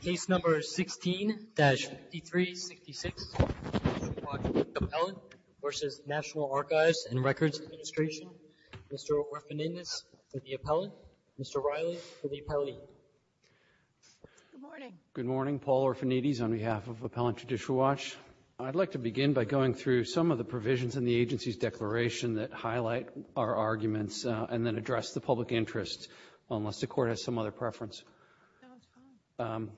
Case No. 16-5366, Appellant v. National Archives and Records Administration. Mr. Orfanides for the appellant. Mr. Riley for the appellee. Good morning. Good morning. Paul Orfanides on behalf of Appellant Judicial Watch. I'd like to begin by going through some of the provisions in the agency's declaration that highlight our arguments and then address the public interest, unless the Court has some other preference. In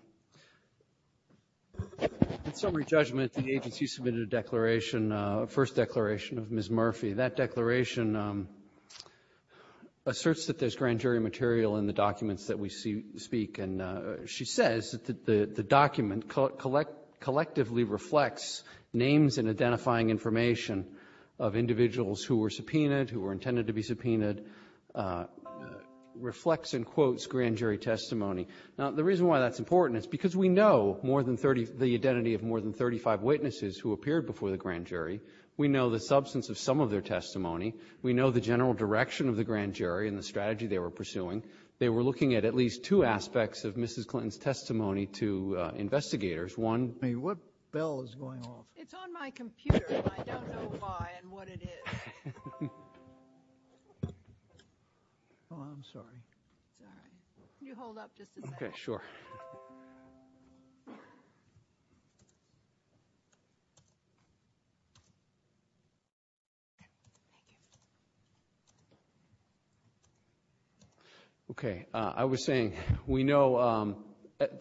summary judgment, the agency submitted a declaration, a first declaration of Ms. Murphy. That declaration asserts that there's grand jury material in the documents that we speak. And she says that the document collectively reflects names and identifying information of individuals who were subpoenaed, who were intended to be subpoenaed, reflects and quotes grand jury testimony. Now, the reason why that's important is because we know more than 30 the identity of more than 35 witnesses who appeared before the grand jury. We know the substance of some of their testimony. We know the general direction of the grand jury and the strategy they were pursuing. They were looking at at least two aspects of Mrs. Clinton's testimony to investigators. One ---- What bell is going off? It's on my computer, and I don't know why and what it is. Oh, I'm sorry. It's all right. Can you hold up just a second? Okay, sure. Okay, I was saying we know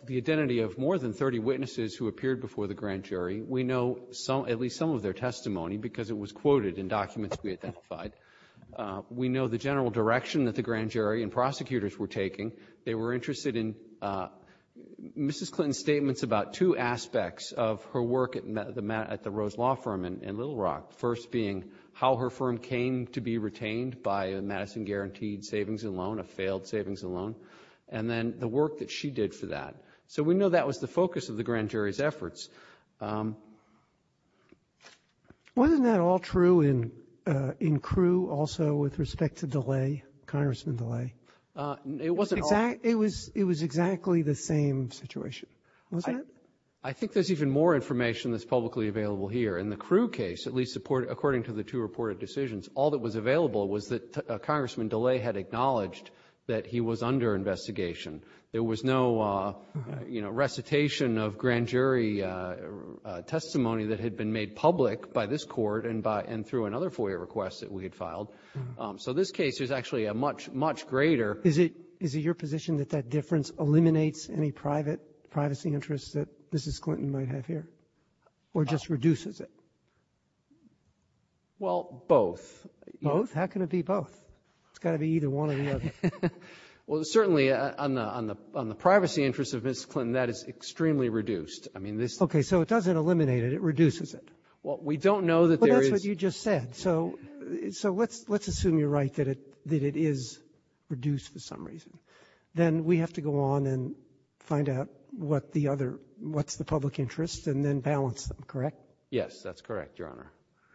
the identity of more than 30 witnesses who appeared before the grand jury. We know at least some of their testimony because it was quoted in documents we identified. We know the general direction that the grand jury and prosecutors were taking. They were interested in Mrs. Clinton's statements about two aspects of her work at the Rose Law Firm in Little Rock, first being how her firm came to be retained by Madison Guaranteed Savings and Loan, a failed savings and loan, and then the work that she did for that. So we know that was the focus of the grand jury's efforts. Wasn't that all true in Crewe also with respect to DeLay, Congressman DeLay? It wasn't all. It was exactly the same situation, wasn't it? I think there's even more information that's publicly available here. In the Crewe case, at least according to the two reported decisions, all that was available was that Congressman DeLay had acknowledged that he was under investigation. There was no, you know, recitation of grand jury testimony that had been made public by this Court and through another FOIA request that we had filed. So this case is actually a much, much greater ---- Is it your position that that difference eliminates any privacy interests that Mrs. Clinton might have here or just reduces it? Well, both. Both? How can it be both? It's got to be either one or the other. Well, certainly on the privacy interests of Mrs. Clinton, that is extremely reduced. I mean, this ---- Okay. So it doesn't eliminate it. It reduces it. Well, we don't know that there is ---- But that's what you just said. So let's assume you're right that it is reduced for some reason. Then we have to go on and find out what the other ---- what's the public interest and then balance them, correct? Yes, that's correct, Your Honor.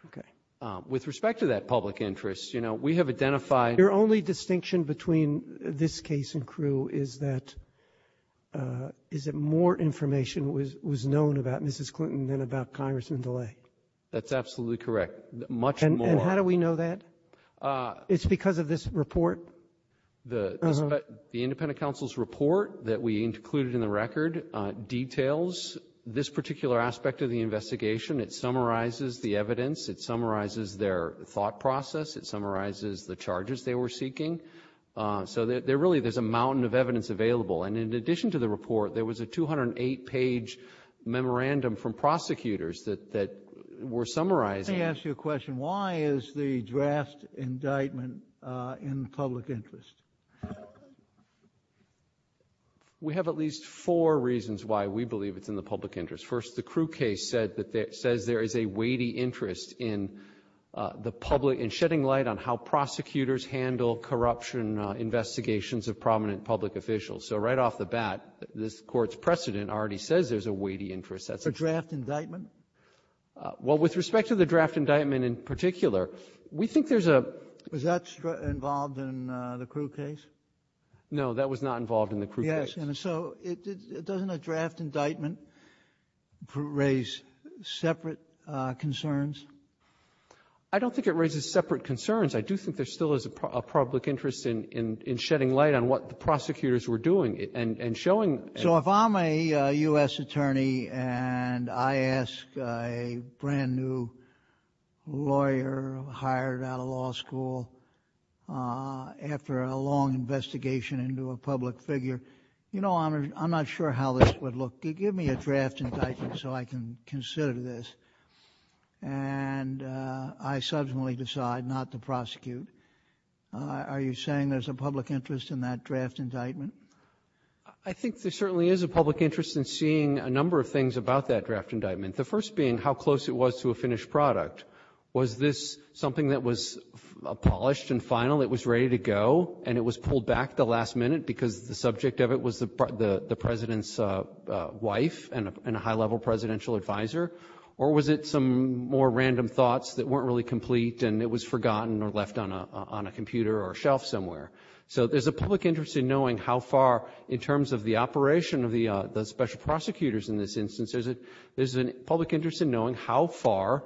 Okay. With respect to that public interest, you know, we have identified ---- Your only distinction between this case and Crewe is that more information was known about Mrs. Clinton than about Congressman DeLay. That's absolutely correct. Much more. And how do we know that? It's because of this report? The independent counsel's report that we included in the record details this particular aspect of the investigation. It summarizes the evidence. It summarizes their thought process. It summarizes the charges they were seeking. So there really is a mountain of evidence available. And in addition to the report, there was a 208-page memorandum from prosecutors that were summarizing ---- Let me ask you a question. Why is the draft indictment in public interest? We have at least four reasons why we believe it's in the public interest. First, the Crewe case said that it says there is a weighty interest in the public ---- in shedding light on how prosecutors handle corruption investigations of prominent public officials. So right off the bat, this Court's precedent already says there's a weighty interest. That's a draft indictment. Well, with respect to the draft indictment in particular, we think there's a ---- Was that involved in the Crewe case? No. That was not involved in the Crewe case. Yes. And so doesn't a draft indictment raise separate concerns? I don't think it raises separate concerns. I do think there still is a public interest in shedding light on what the prosecutors were doing and showing ---- So if I'm a U.S. attorney and I ask a brand-new lawyer hired out of law school after a long investigation into a public figure, you know, I'm not sure how this would look. Give me a draft indictment so I can consider this. And I subsequently decide not to prosecute. Are you saying there's a public interest in that draft indictment? I think there certainly is a public interest in seeing a number of things about that draft indictment. The first being how close it was to a finished product. Was this something that was polished and final, it was ready to go, and it was pulled back at the last minute because the subject of it was the President's wife and a high-level presidential advisor? Or was it some more random thoughts that weren't really complete and it was forgotten or left on a computer or a shelf somewhere? So there's a public interest in knowing how far, in terms of the operation of the special prosecutors in this instance, there's a public interest in knowing how far,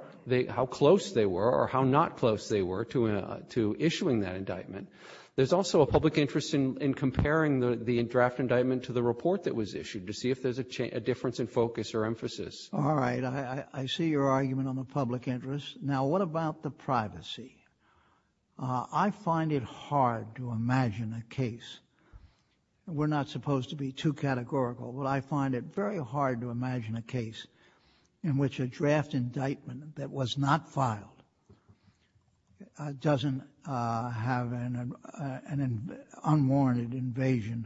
how close they were or how not close they were to issuing that indictment. There's also a public interest in comparing the draft indictment to the report that was issued to see if there's a difference in focus or emphasis. All right. I see your argument on the public interest. Now, what about the privacy? I find it hard to imagine a case, and we're not supposed to be too categorical, but I find it very hard to imagine a case in which a draft indictment that was not filed doesn't have an unwarranted invasion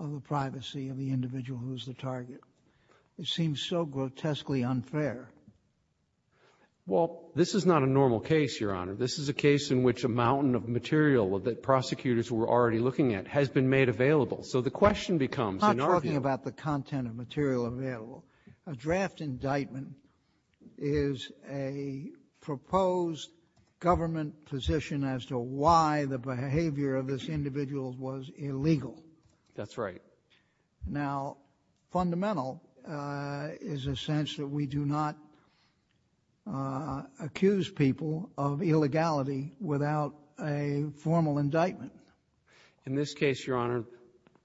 of the privacy of the individual who's the target. It seems so grotesquely unfair. Well, this is not a normal case, Your Honor. This is a case in which a mountain of material that prosecutors were already looking at has been made available. So the question becomes, in our view — I'm not talking about the content of material available. A draft indictment is a proposed government position as to why the behavior of this individual was illegal. That's right. Now, fundamental is a sense that we do not accuse people of illegality without a formal indictment. In this case, Your Honor,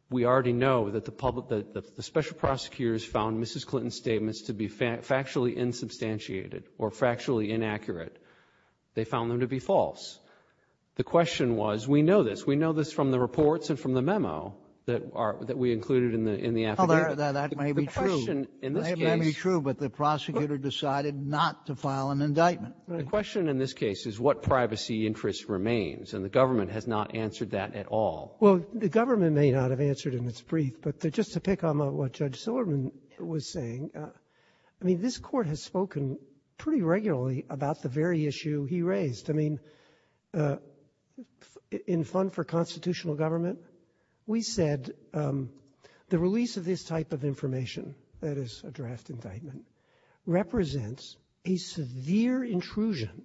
we already know that the special prosecutors found Mrs. Clinton's statements to be factually insubstantiated or factually inaccurate. They found them to be false. The question was, we know this. We know this from the reports and from the memo that we included in the affidavit. Well, that may be true. The question in this case — It may be true, but the prosecutor decided not to file an indictment. The question in this case is what privacy interest remains, and the government has not answered that at all. Well, the government may not have answered in its brief, but just to pick on what Judge Silverman was saying, I mean, this Court has spoken pretty regularly about the very issue he raised. I mean, in Fund for Constitutional Government, we said the release of this type of information, that is a draft indictment, represents a severe intrusion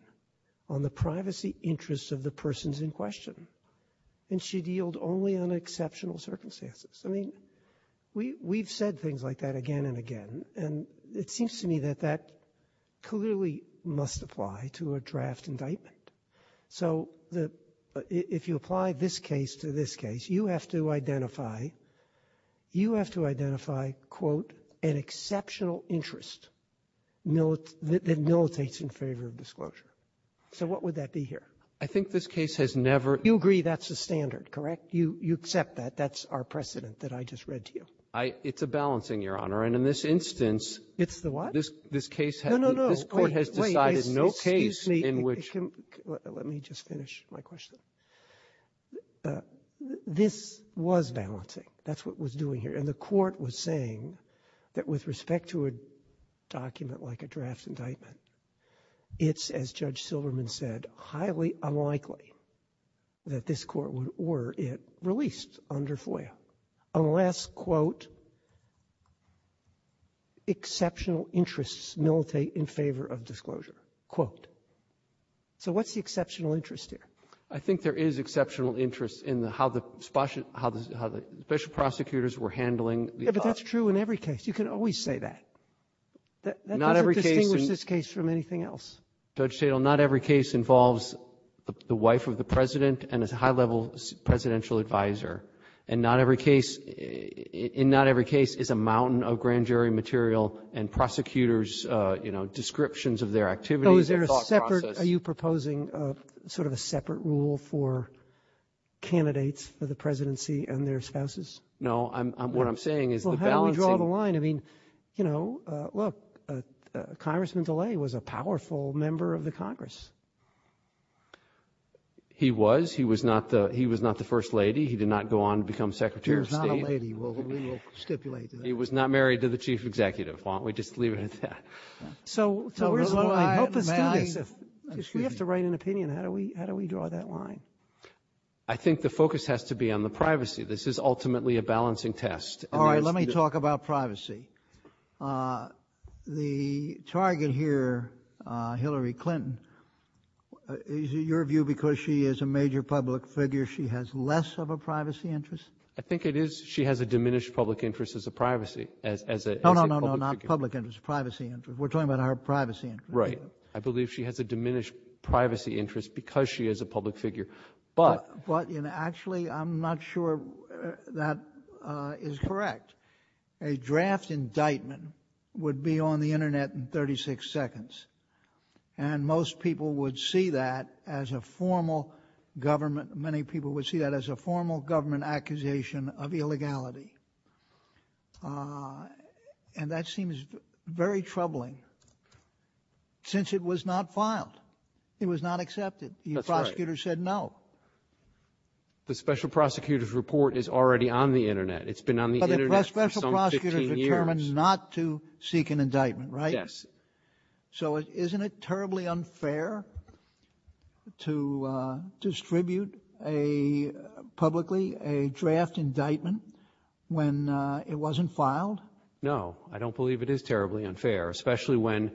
on the privacy interests of the persons in question, and should yield only on exceptional circumstances. I mean, we've said things like that again and again, and it seems to me that that clearly must apply to a draft indictment. So the — if you apply this case to this case, you have to identify — you have to identify, quote, an exceptional interest that militates in favor of disclosure. So what would that be here? I think this case has never — You agree that's the standard, correct? You accept that? That's our precedent that I just read to you? It's a balancing, Your Honor. And in this instance — It's the what? This case has — No, no, no. Wait. This Court has decided no case in which — Excuse me. Let me just finish my question. This was balancing. That's what it was doing here. And the Court was saying that with respect to a document like a draft indictment, it's, as Judge Silverman said, highly unlikely that this Court would order it released under FOIA unless, quote, exceptional interests militate in favor of disclosure, quote. So what's the exceptional interest here? I think there is exceptional interest in the — how the — how the special prosecutors were handling the — Yeah, but that's true in every case. You can always say that. Not every case — That doesn't distinguish this case from anything else. Judge Tatel, not every case involves the wife of the President and a high-level presidential advisor. And not every case — in not every case is a mountain of grand jury material and prosecutors, you know, descriptions of their activities and thought process. Oh, is there a separate — are you proposing sort of a separate rule for candidates for the presidency and their spouses? No. I'm — what I'm saying is the balancing — Well, how do we draw the line? I mean, you know, look, Congressman DeLay was a powerful member of the Congress. He was. He was not the — he was not the First Lady. He did not go on to become Secretary of State. He was not a lady. Well, we will stipulate that. He was not married to the chief executive. Why don't we just leave it at that? So where's the line? May I — We have to write an opinion. How do we — how do we draw that line? I think the focus has to be on the privacy. This is ultimately a balancing test. All right. Let me talk about privacy. The target here, Hillary Clinton, is it your view because she is a major public figure, she has less of a privacy interest? I think it is. She has a diminished public interest as a privacy — as a public figure. No, no, no, no. Not public interest. Privacy interest. We're talking about her privacy interest. Right. I believe she has a diminished privacy interest because she is a public figure. But — A draft indictment would be on the Internet in 36 seconds. And most people would see that as a formal government — many people would see that as a formal government accusation of illegality. And that seems very troubling since it was not filed. It was not accepted. That's right. The prosecutor said no. The special prosecutor's report is already on the Internet. It's been on the Internet for some 15 years. But the special prosecutor determined not to seek an indictment, right? Yes. So isn't it terribly unfair to distribute publicly a draft indictment when it wasn't filed? No. I don't believe it is terribly unfair, especially when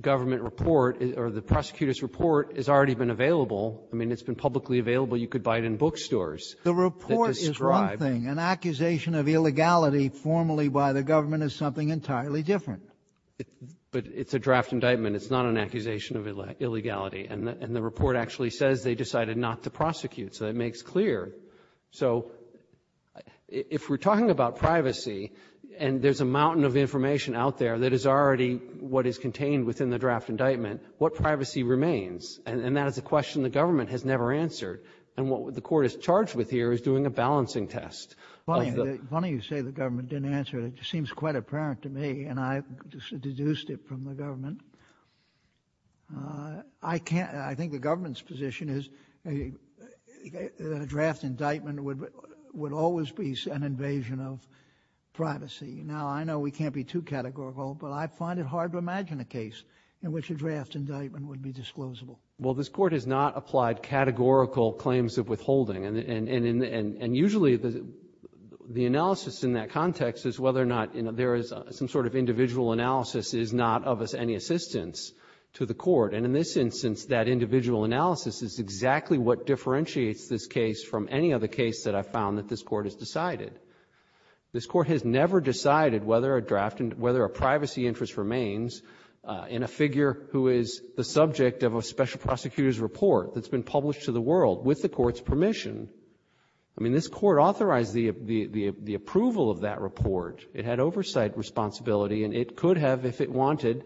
government report or the prosecutor's report has already been available. I mean, it's been publicly available. You could buy it in bookstores. The report is one thing. An accusation of illegality formally by the government is something entirely different. But it's a draft indictment. It's not an accusation of illegality. And the report actually says they decided not to prosecute. So that makes clear. So if we're talking about privacy and there's a mountain of information out there that is already what is contained within the draft indictment, what privacy remains? And that is a question the government has never answered. And what the Court is charged with here is doing a balancing test. It's funny you say the government didn't answer it. It just seems quite apparent to me. And I deduced it from the government. I can't. I think the government's position is that a draft indictment would always be an invasion of privacy. Now, I know we can't be too categorical, but I find it hard to imagine a case in which a draft indictment would be disclosable. Well, this Court has not applied categorical claims of withholding. And usually the analysis in that context is whether or not there is some sort of individual analysis is not of any assistance to the Court. And in this instance, that individual analysis is exactly what differentiates this case from any other case that I've found that this Court has decided. This Court has never decided whether a draft and whether a privacy interest remains in a figure who is the subject of a special prosecutor's report that's been published to the world with the Court's permission. I mean, this Court authorized the approval of that report. It had oversight responsibility. And it could have if it wanted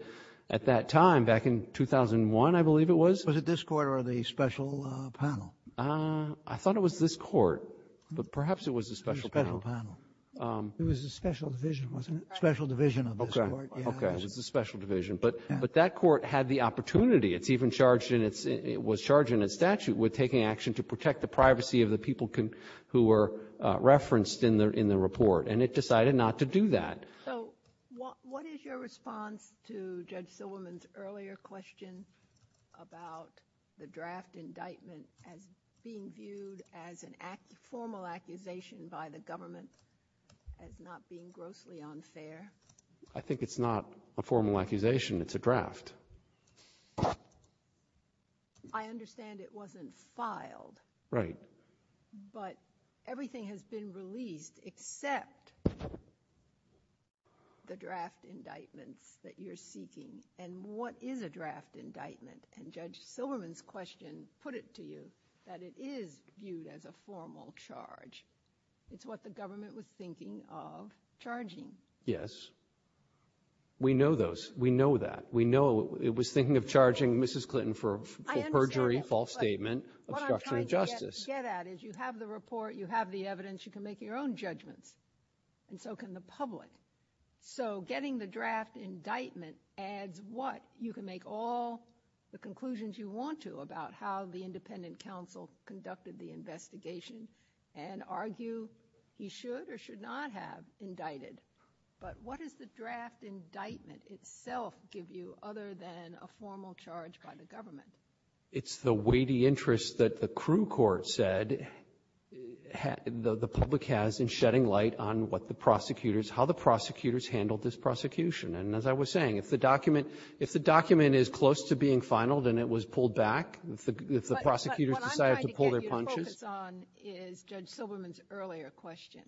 at that time, back in 2001, I believe it was. Was it this Court or the special panel? I thought it was this Court. But perhaps it was the special panel. The special panel. It was the special division, wasn't it? Special division of this Court. Okay. It was the special division. But that Court had the opportunity. It's even charged in its — it was charged in its statute with taking action to protect the privacy of the people who were referenced in the report. And it decided not to do that. So what is your response to Judge Silverman's earlier question about the draft indictment as being viewed as a formal accusation by the government, as not being grossly unfair? I think it's not a formal accusation. It's a draft. I understand it wasn't filed. Right. But everything has been released except the draft indictments that you're seeking. And what is a draft indictment? And Judge Silverman's question put it to you that it is viewed as a formal charge. It's what the government was thinking of charging. Yes. We know those. We know that. We know it was thinking of charging Mrs. Clinton for perjury, false statement, obstruction of justice. What I'm trying to get at is you have the report. You have the evidence. You can make your own judgments. And so can the public. So getting the draft indictment adds what? You can make all the conclusions you want to about how the independent counsel conducted the investigation and argue he should or should not have indicted. But what does the draft indictment itself give you other than a formal charge by the government? It's the weighty interest that the crew court said the public has in shedding light on what the prosecutors, how the prosecutors handled this prosecution. And as I was saying, if the document is close to being finaled and it was pulled back, if the prosecutors decided to pull their punches. But what I'm trying to get you to focus on is Judge Silverman's earlier question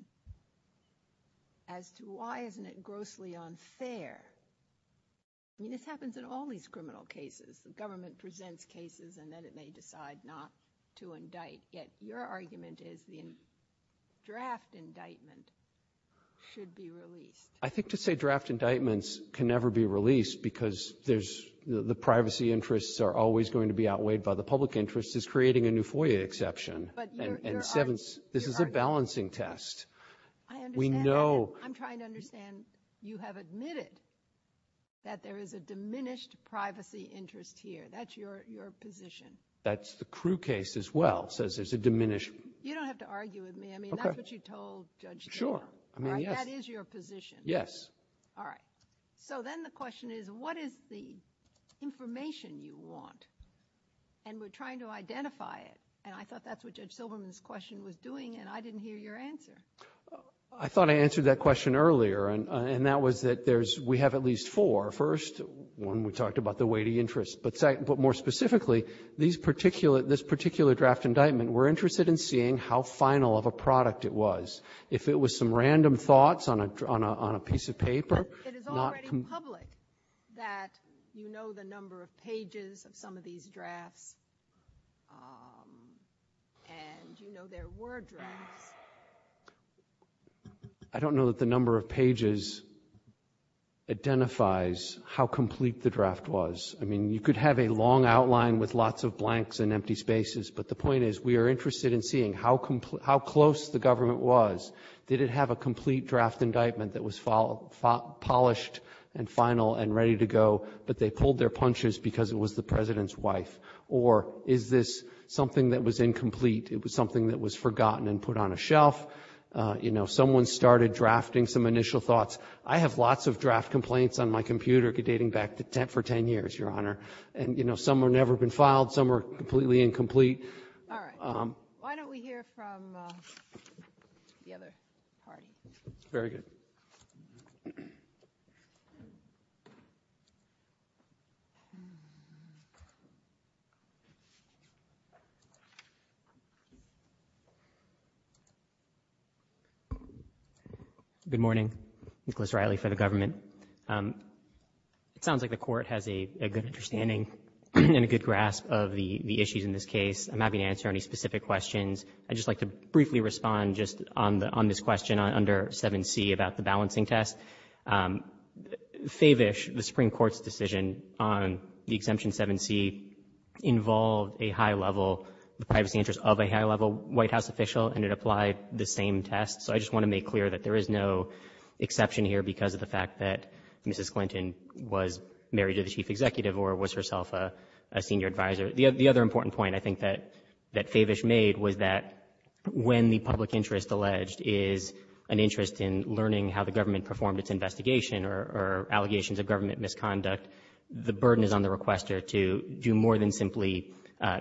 as to why isn't it grossly unfair. I mean, this happens in all these criminal cases. The government presents cases and then it may decide not to indict. Yet your argument is the draft indictment should be released. I think to say draft indictments can never be released because there's the privacy interests are always going to be outweighed by the public interest is creating a new FOIA exception. And this is a balancing test. I understand. We know. I'm trying to understand. You have admitted that there is a diminished privacy interest here. That's your position. That's the crew case as well, says there's a diminished. You don't have to argue with me. I mean, that's what you told Judge. Sure. I mean, that is your position. Yes. All right. So then the question is, what is the information you want? And we're trying to identify it. And I thought that's what Judge Silverman's question was doing. And I didn't hear your answer. I thought I answered that question earlier. And that was that there's we have at least four. First one, we talked about the weighty interest. But more specifically, this particular draft indictment, we're interested in seeing how final of a product it was. If it was some random thoughts on a piece of paper. It is already public that you know the number of pages of some of these drafts and you know there were drafts. I don't know that the number of pages identifies how complete the draft was. I mean, you could have a long outline with lots of blanks and empty spaces. But the point is we are interested in seeing how close the government was. Did it have a complete draft indictment that was polished and final and ready to go, but they pulled their punches because it was the President's wife? Or is this something that was incomplete? It was something that was forgotten and put on a shelf? You know, someone started drafting some initial thoughts. I have lots of draft complaints on my computer dating back for ten years, Your Honor. And, you know, some have never been filed. Some are completely incomplete. All right. Why don't we hear from the other party? Very good. Thank you. Good morning. Nicholas Riley for the government. It sounds like the Court has a good understanding and a good grasp of the issues in this case. I'm happy to answer any specific questions. I'd just like to briefly respond just on this question under 7C about the balancing test. Favish, the Supreme Court's decision on the exemption 7C, involved a high-level privacy interest of a high-level White House official, and it applied the same test. So I just want to make clear that there is no exception here because of the fact that Mrs. Clinton was married to the chief executive or was herself a senior advisor. The other important point I think that Favish made was that when the public interest alleged is an interest in learning how the government performed its investigation or allegations of government misconduct, the burden is on the requester to do more than simply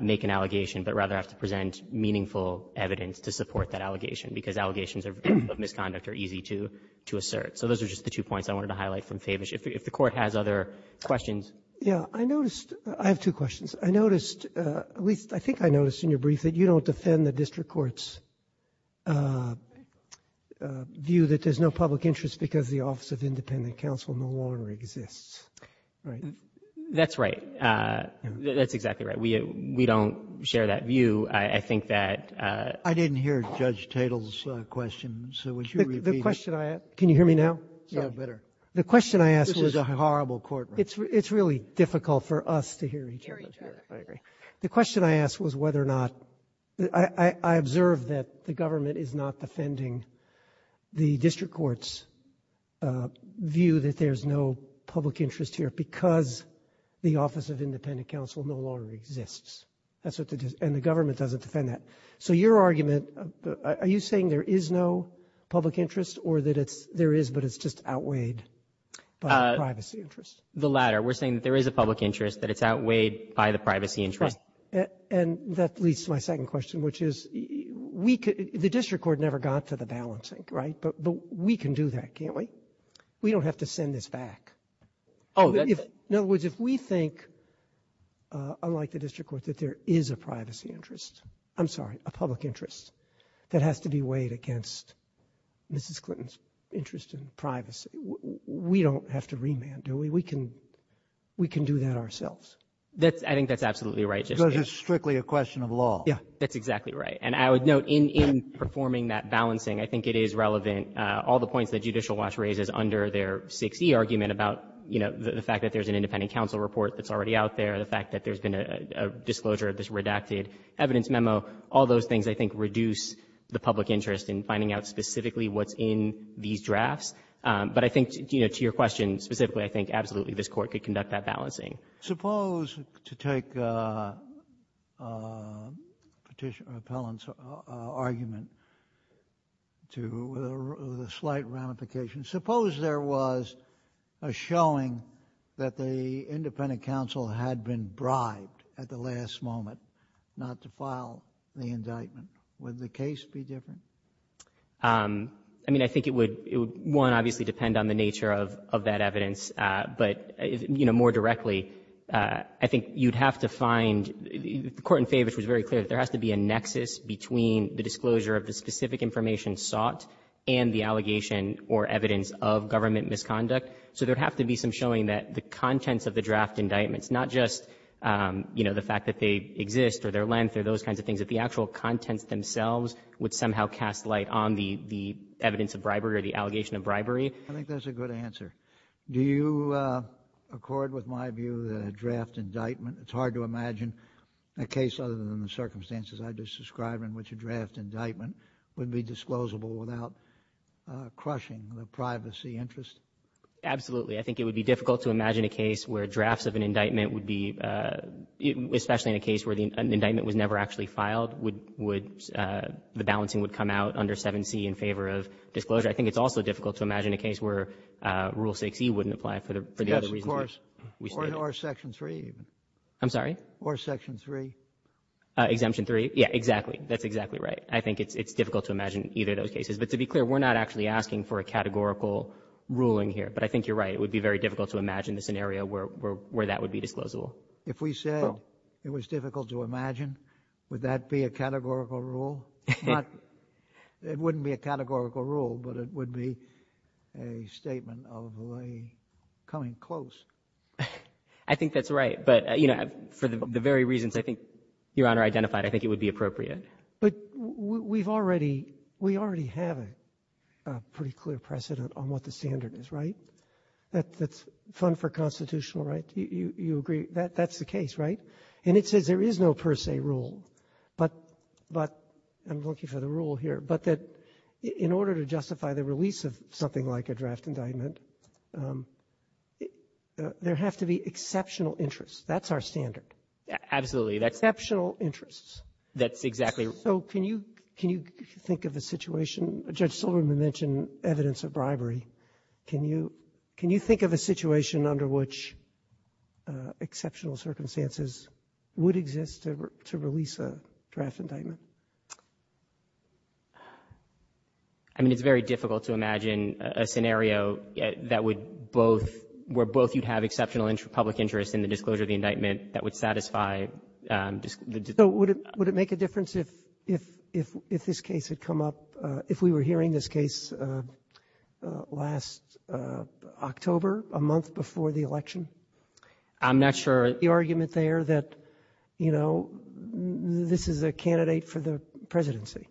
make an allegation, but rather have to present meaningful evidence to support that allegation because allegations of misconduct are easy to assert. So those are just the two points I wanted to highlight from Favish. If the Court has other questions. Roberts. Yeah. I noticed — I have two questions. I noticed, at least I think I noticed in your brief, that you don't defend the district court's view that there's no public interest because the Office of Independent Counsel no longer exists, right? That's right. That's exactly right. We don't share that view. I think that — I didn't hear Judge Tatel's question, so would you repeat it? The question I asked — can you hear me now? Yeah, better. The question I asked was — This is a horrible courtroom. It's really difficult for us to hear each other. Hear each other. I agree. The question I asked was whether or not — I observed that the government is not defending the district court's view that there's no public interest here because the Office of Independent Counsel no longer exists. That's what the — and the government doesn't defend that. So your argument, are you saying there is no public interest or that it's — there is no public interest outweighed by the privacy interest? The latter. We're saying that there is a public interest, that it's outweighed by the privacy interest. Right. And that leads to my second question, which is we could — the district court never got to the balancing, right? But we can do that, can't we? We don't have to send this back. Oh, that's — In other words, if we think, unlike the district court, that there is a privacy interest — I'm sorry, a public interest that has to be weighed against Mrs. Clinton's interest in privacy, we don't have to remand, do we? We can — we can do that ourselves. That's — I think that's absolutely right, Justice Sotomayor. Because it's strictly a question of law. Yeah. That's exactly right. And I would note, in — in performing that balancing, I think it is relevant — all the points that Judicial Watch raises under their 6e argument about, you know, the fact that there's an independent counsel report that's already out there, the fact that there's been a — a disclosure of this redacted evidence memo, all those things I think reduce the public interest in finding out specifically what's in these drafts. But I think, you know, to your question specifically, I think absolutely this Court could conduct that balancing. Suppose, to take Petitioner — Appellant's argument to — with a slight ramification, suppose there was a showing that the independent counsel had been bribed at the last moment not to file the indictment. Would the case be different? I mean, I think it would — it would, one, obviously depend on the nature of — of that evidence. But, you know, more directly, I think you'd have to find — the court in Favich was very clear that there has to be a nexus between the disclosure of the specific information sought and the allegation or evidence of government misconduct. So there would have to be some showing that the contents of the draft indictments, not just, you know, the fact that they exist or their length or those kinds of things, that the actual contents themselves would somehow cast light on the — the evidence of bribery or the allegation of bribery. I think that's a good answer. Do you accord with my view that a draft indictment — it's hard to imagine a case other than the circumstances I just described in which a draft indictment would be disclosable without crushing the privacy interest? Absolutely. I think it would be difficult to imagine a case where drafts of an indictment would be — especially in a case where an indictment was never actually filed, would — the balancing would come out under 7C in favor of disclosure. I think it's also difficult to imagine a case where Rule 6e wouldn't apply for the other reasons we stated. Yes, of course. Or Section 3. I'm sorry? Or Section 3. Exemption 3. Yeah, exactly. That's exactly right. I think it's difficult to imagine either of those cases. But to be clear, we're not actually asking for a categorical ruling here. But I think you're right. It would be very difficult to imagine the scenario where that would be disclosable. If we said it was difficult to imagine, would that be a categorical rule? Not — it wouldn't be a categorical rule, but it would be a statement of a coming close. I think that's right. But, you know, for the very reasons I think Your Honor identified, I think it would be appropriate. But we've already — we already have a pretty clear precedent on what the standard is, right? That's fund for constitutional right. You agree that that's the case, right? And it says there is no per se rule. But I'm looking for the rule here. But that in order to justify the release of something like a draft indictment, there have to be exceptional interests. That's our standard. Absolutely. Exceptional interests. That's exactly right. So can you — can you think of a situation — Judge Silverman mentioned evidence of bribery. Can you — can you think of a situation under which exceptional circumstances would exist to release a draft indictment? I mean, it's very difficult to imagine a scenario that would both — where both you'd have exceptional public interest in the disclosure of the indictment that would satisfy the — So would it — would it make a difference if this case had come up — if we were hearing this case last October, a month before the election? I'm not sure. The argument there that, you know, this is a candidate for the presidency.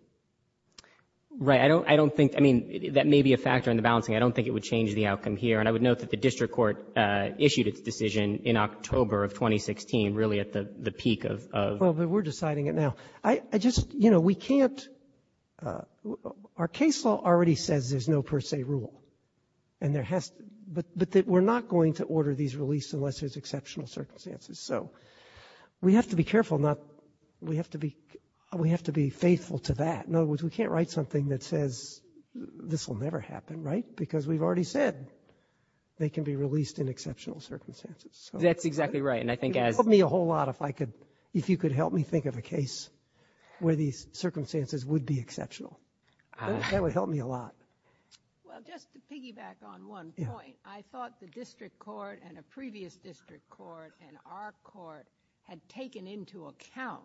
Right. I don't — I don't think — I mean, that may be a factor in the balancing. I don't think it would change the outcome here. And I would note that the district court issued its decision in October of 2016, really at the peak of — Well, but we're deciding it now. I just — you know, we can't — our case law already says there's no per se rule. And there has — but we're not going to order these releases unless there's exceptional circumstances. So we have to be careful not — we have to be — we have to be faithful to that. In other words, we can't write something that says this will never happen. Right? Because we've already said they can be released in exceptional circumstances. That's exactly right. And I think as — It would help me a whole lot if I could — if you could help me think of a case where these circumstances would be exceptional. That would help me a lot. Well, just to piggyback on one point. Yeah. I thought the district court and a previous district court and our court had taken into account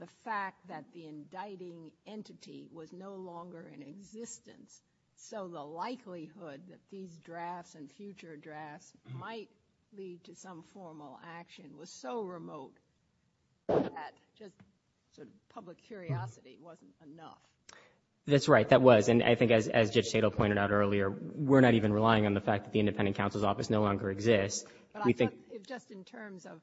the fact that the indicting entity was no longer in existence. So the likelihood that these drafts and future drafts might lead to some formal action was so remote that just sort of public curiosity wasn't enough. That's right. That was. And I think as Judge Tatel pointed out earlier, we're not even relying on the fact that the independent counsel's office no longer exists. We think — But I thought if just in terms of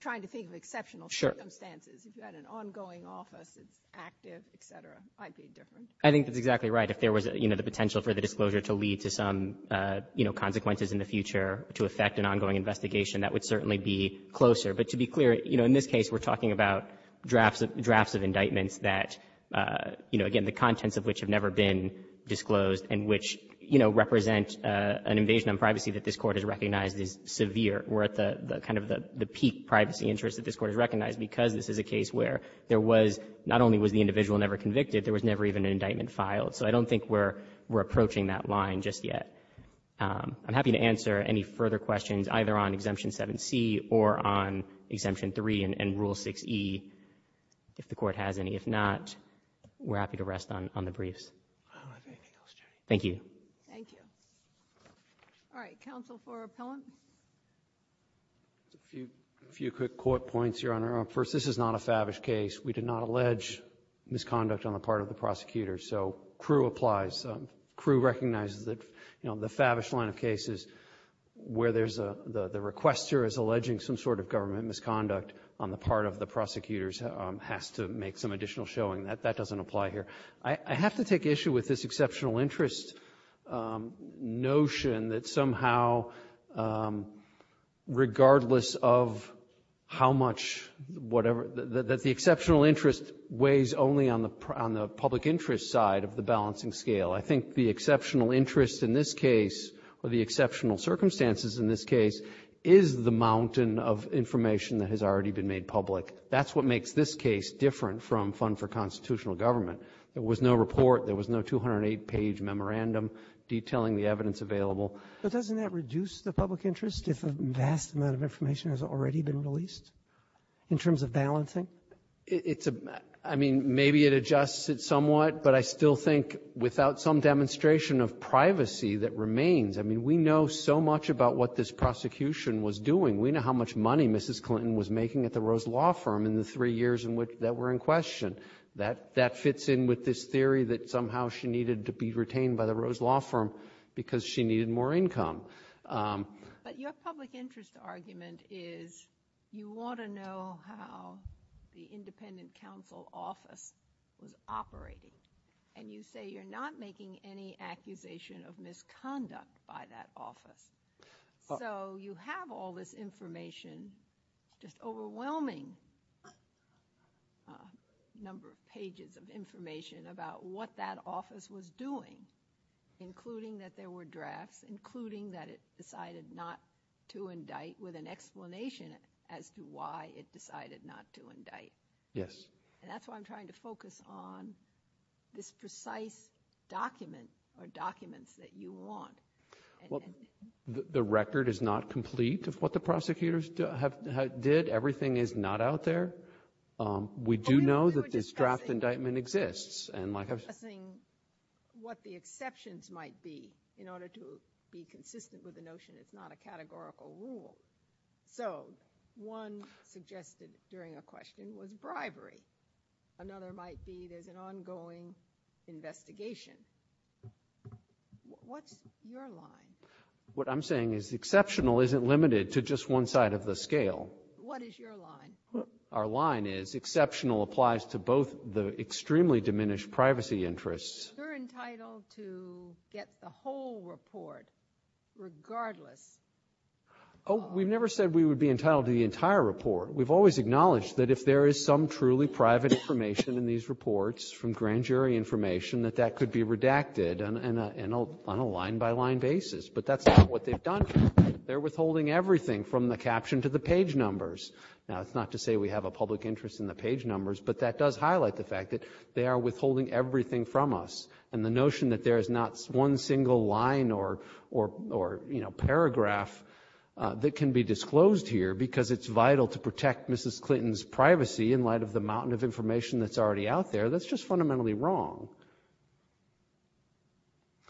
trying to think of exceptional circumstances. Sure. If you had an ongoing office that's active, et cetera, it might be different. I think that's exactly right. If there was, you know, the potential for the disclosure to lead to some, you know, consequences in the future to affect an ongoing investigation, that would certainly be closer. But to be clear, you know, in this case we're talking about drafts of — drafts of indictments that, you know, again, the contents of which have never been disclosed and which, you know, represent an invasion of privacy that this Court has recognized is severe. We're at the — kind of the peak privacy interest that this Court has recognized because this is a case where there was — not only was the individual never convicted, there was never even an indictment filed. So I don't think we're approaching that line just yet. I'm happy to answer any further questions either on Exemption 7C or on Exemption 3 and Rule 6e if the Court has any. If not, we're happy to rest on the briefs. I don't have anything else, Jenny. Thank you. Thank you. All right. Counsel for appellant? A few quick court points, Your Honor. First, this is not a favish case. We did not allege misconduct on the part of the prosecutors. So Crewe applies. Crewe recognizes that, you know, the favish line of cases where there's a — the requester is alleging some sort of government misconduct on the part of the prosecutors has to make some additional showing. That doesn't apply here. I have to take issue with this exceptional interest notion that somehow regardless of how much whatever — that the exceptional interest weighs only on the public interest side of the balancing scale. I think the exceptional interest in this case, or the exceptional circumstances in this case, is the mountain of information that has already been made public. That's what makes this case different from Fund for Constitutional Government. There was no report. There was no 208-page memorandum detailing the evidence available. But doesn't that reduce the public interest if a vast amount of information has already been released in terms of balancing? It's a — I mean, maybe it adjusts it somewhat, but I still think without some demonstration of privacy that remains — I mean, we know so much about what this prosecution was doing. We know how much money Mrs. Clinton was making at the Rose Law Firm in the three years in which — that were in question. That — that fits in with this theory that somehow she needed to be retained by the Rose Law Firm because she needed more income. But your public interest argument is you want to know how the independent counsel office was operating, and you say you're not making any accusation of misconduct by that office. So you have all this information, just overwhelming number of pages of information about what that office was doing, including that there were drafts, including that it decided not to indict, with an explanation as to why it decided not to indict. Yes. And that's why I'm trying to focus on this precise document or documents that you want. Well, the record is not complete of what the prosecutors have — did. Everything is not out there. We do know that this draft indictment exists. But you were discussing what the exceptions might be in order to be consistent with the notion it's not a categorical rule. So one suggested during a question was bribery. Another might be there's an ongoing investigation. What's your line? What I'm saying is the exceptional isn't limited to just one side of the scale. What is your line? Our line is exceptional applies to both the extremely diminished privacy interests. You're entitled to get the whole report regardless. Oh, we've never said we would be entitled to the entire report. We've always acknowledged that if there is some truly private information in these reports from grand jury information, that that could be redacted on a line-by-line basis. But that's not what they've done. They're withholding everything from the caption to the page numbers. Now, that's not to say we have a public interest in the page numbers, but that does highlight the fact that they are withholding everything from us. And the notion that there is not one single line or paragraph that can be disclosed here because it's vital to protect Mrs. Clinton's privacy in light of the mountain of information that's already out there, that's just fundamentally wrong.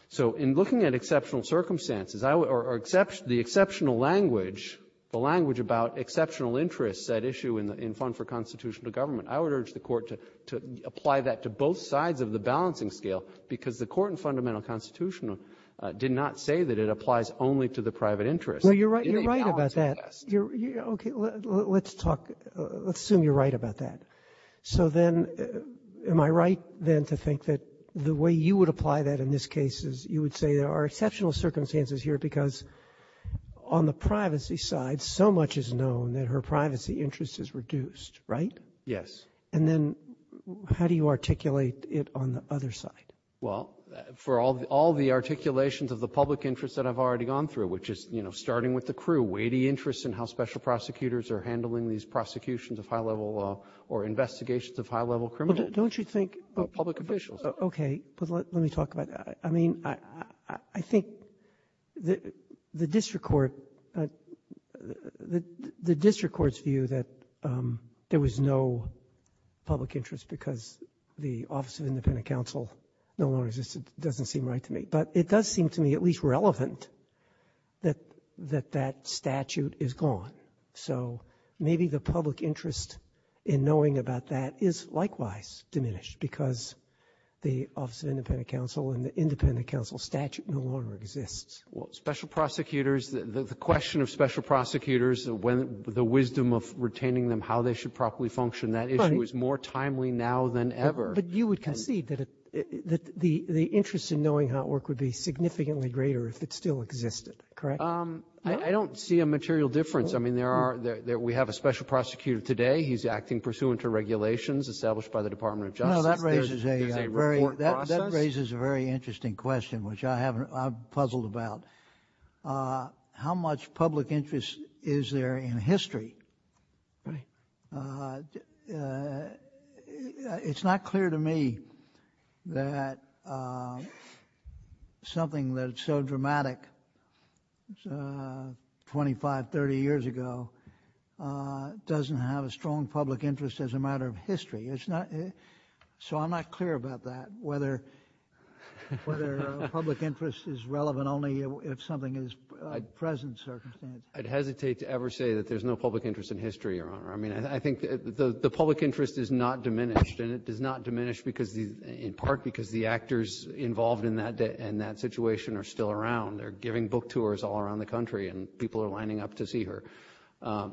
So in looking at exceptional circumstances, or the exceptional language, the language about exceptional interests at issue in the Fund for Constitutional Government, I would urge the Court to apply that to both sides of the balancing scale, because the Court in Fundamental Constitution did not say that it applies only to the private interest. You're right about that. Okay. Let's talk. Let's assume you're right about that. So then am I right, then, to think that the way you would apply that in this case is you would say there are exceptional circumstances here because on the privacy side, so much is known that her privacy interest is reduced, right? Yes. And then how do you articulate it on the other side? Well, for all the articulations of the public interest that I've already gone through, which is, you know, starting with the crew, weighty interests in how special prosecutors are handling these prosecutions of high-level law or investigations of high-level criminals? Don't you think of public officials? Okay. But let me talk about that. I mean, I think the district court, the district court's view that there was no public interest because the Office of Independent Counsel no longer exists doesn't seem right to me. But it does seem to me at least relevant that that statute is gone. So maybe the public interest in knowing about that is likewise diminished because the Office of Independent Counsel and the Independent Counsel statute no longer exists. Well, special prosecutors, the question of special prosecutors, the wisdom of retaining them, how they should properly function, that issue is more timely now than ever. But you would concede that the interest in knowing how it worked would be significantly greater if it still existed, correct? I don't see a material difference. I mean, there are, we have a special prosecutor today. He's acting pursuant to regulations established by the Department of Justice. There's a report process. No, that raises a very interesting question, which I haven't, I'm puzzled about. How much public interest is there in history? It's not clear to me that something that's so dramatic 25, 30 years ago doesn't have a strong public interest as a matter of history. So I'm not clear about that, whether public interest is relevant only if something is present circumstances. I'd hesitate to ever say that there's no public interest in history, Your Honor. I mean, I think the public interest is not diminished, and it does not diminish in part because the actors involved in that situation are still around. They're giving book tours all around the country, and people are lining up to see her.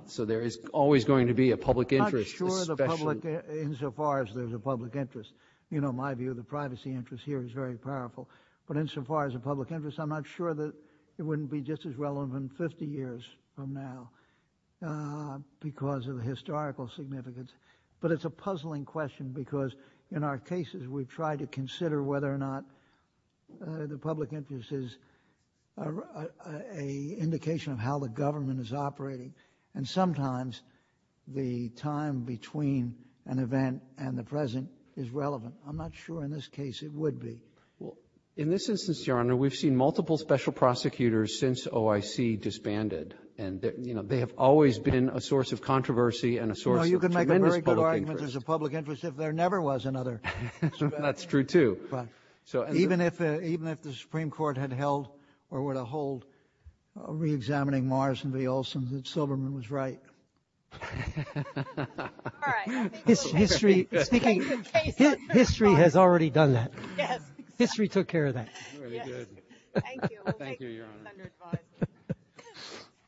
So there is always going to be a public interest. I'm not sure the public, insofar as there's a public interest. You know, my view of the privacy interest here is very powerful. But insofar as a public interest, I'm not sure that it wouldn't be just as relevant 50 years from now because of the historical significance. But it's a puzzling question because in our cases, we've tried to consider whether or not the public interest is an indication of how the government is operating. And sometimes the time between an event and the present is relevant. I'm not sure in this case it would be. Well, in this instance, Your Honor, we've seen multiple special prosecutors since OIC disbanded. And, you know, they have always been a source of controversy and a source of tremendous public interest. No, you can make a very good argument there's a public interest if there never was another. That's true, too. Even if the Supreme Court had held or were to hold reexamining Morrison v. Olson, that Silberman was right. All right. History has already done that. History took care of that. Thank you, Your Honor.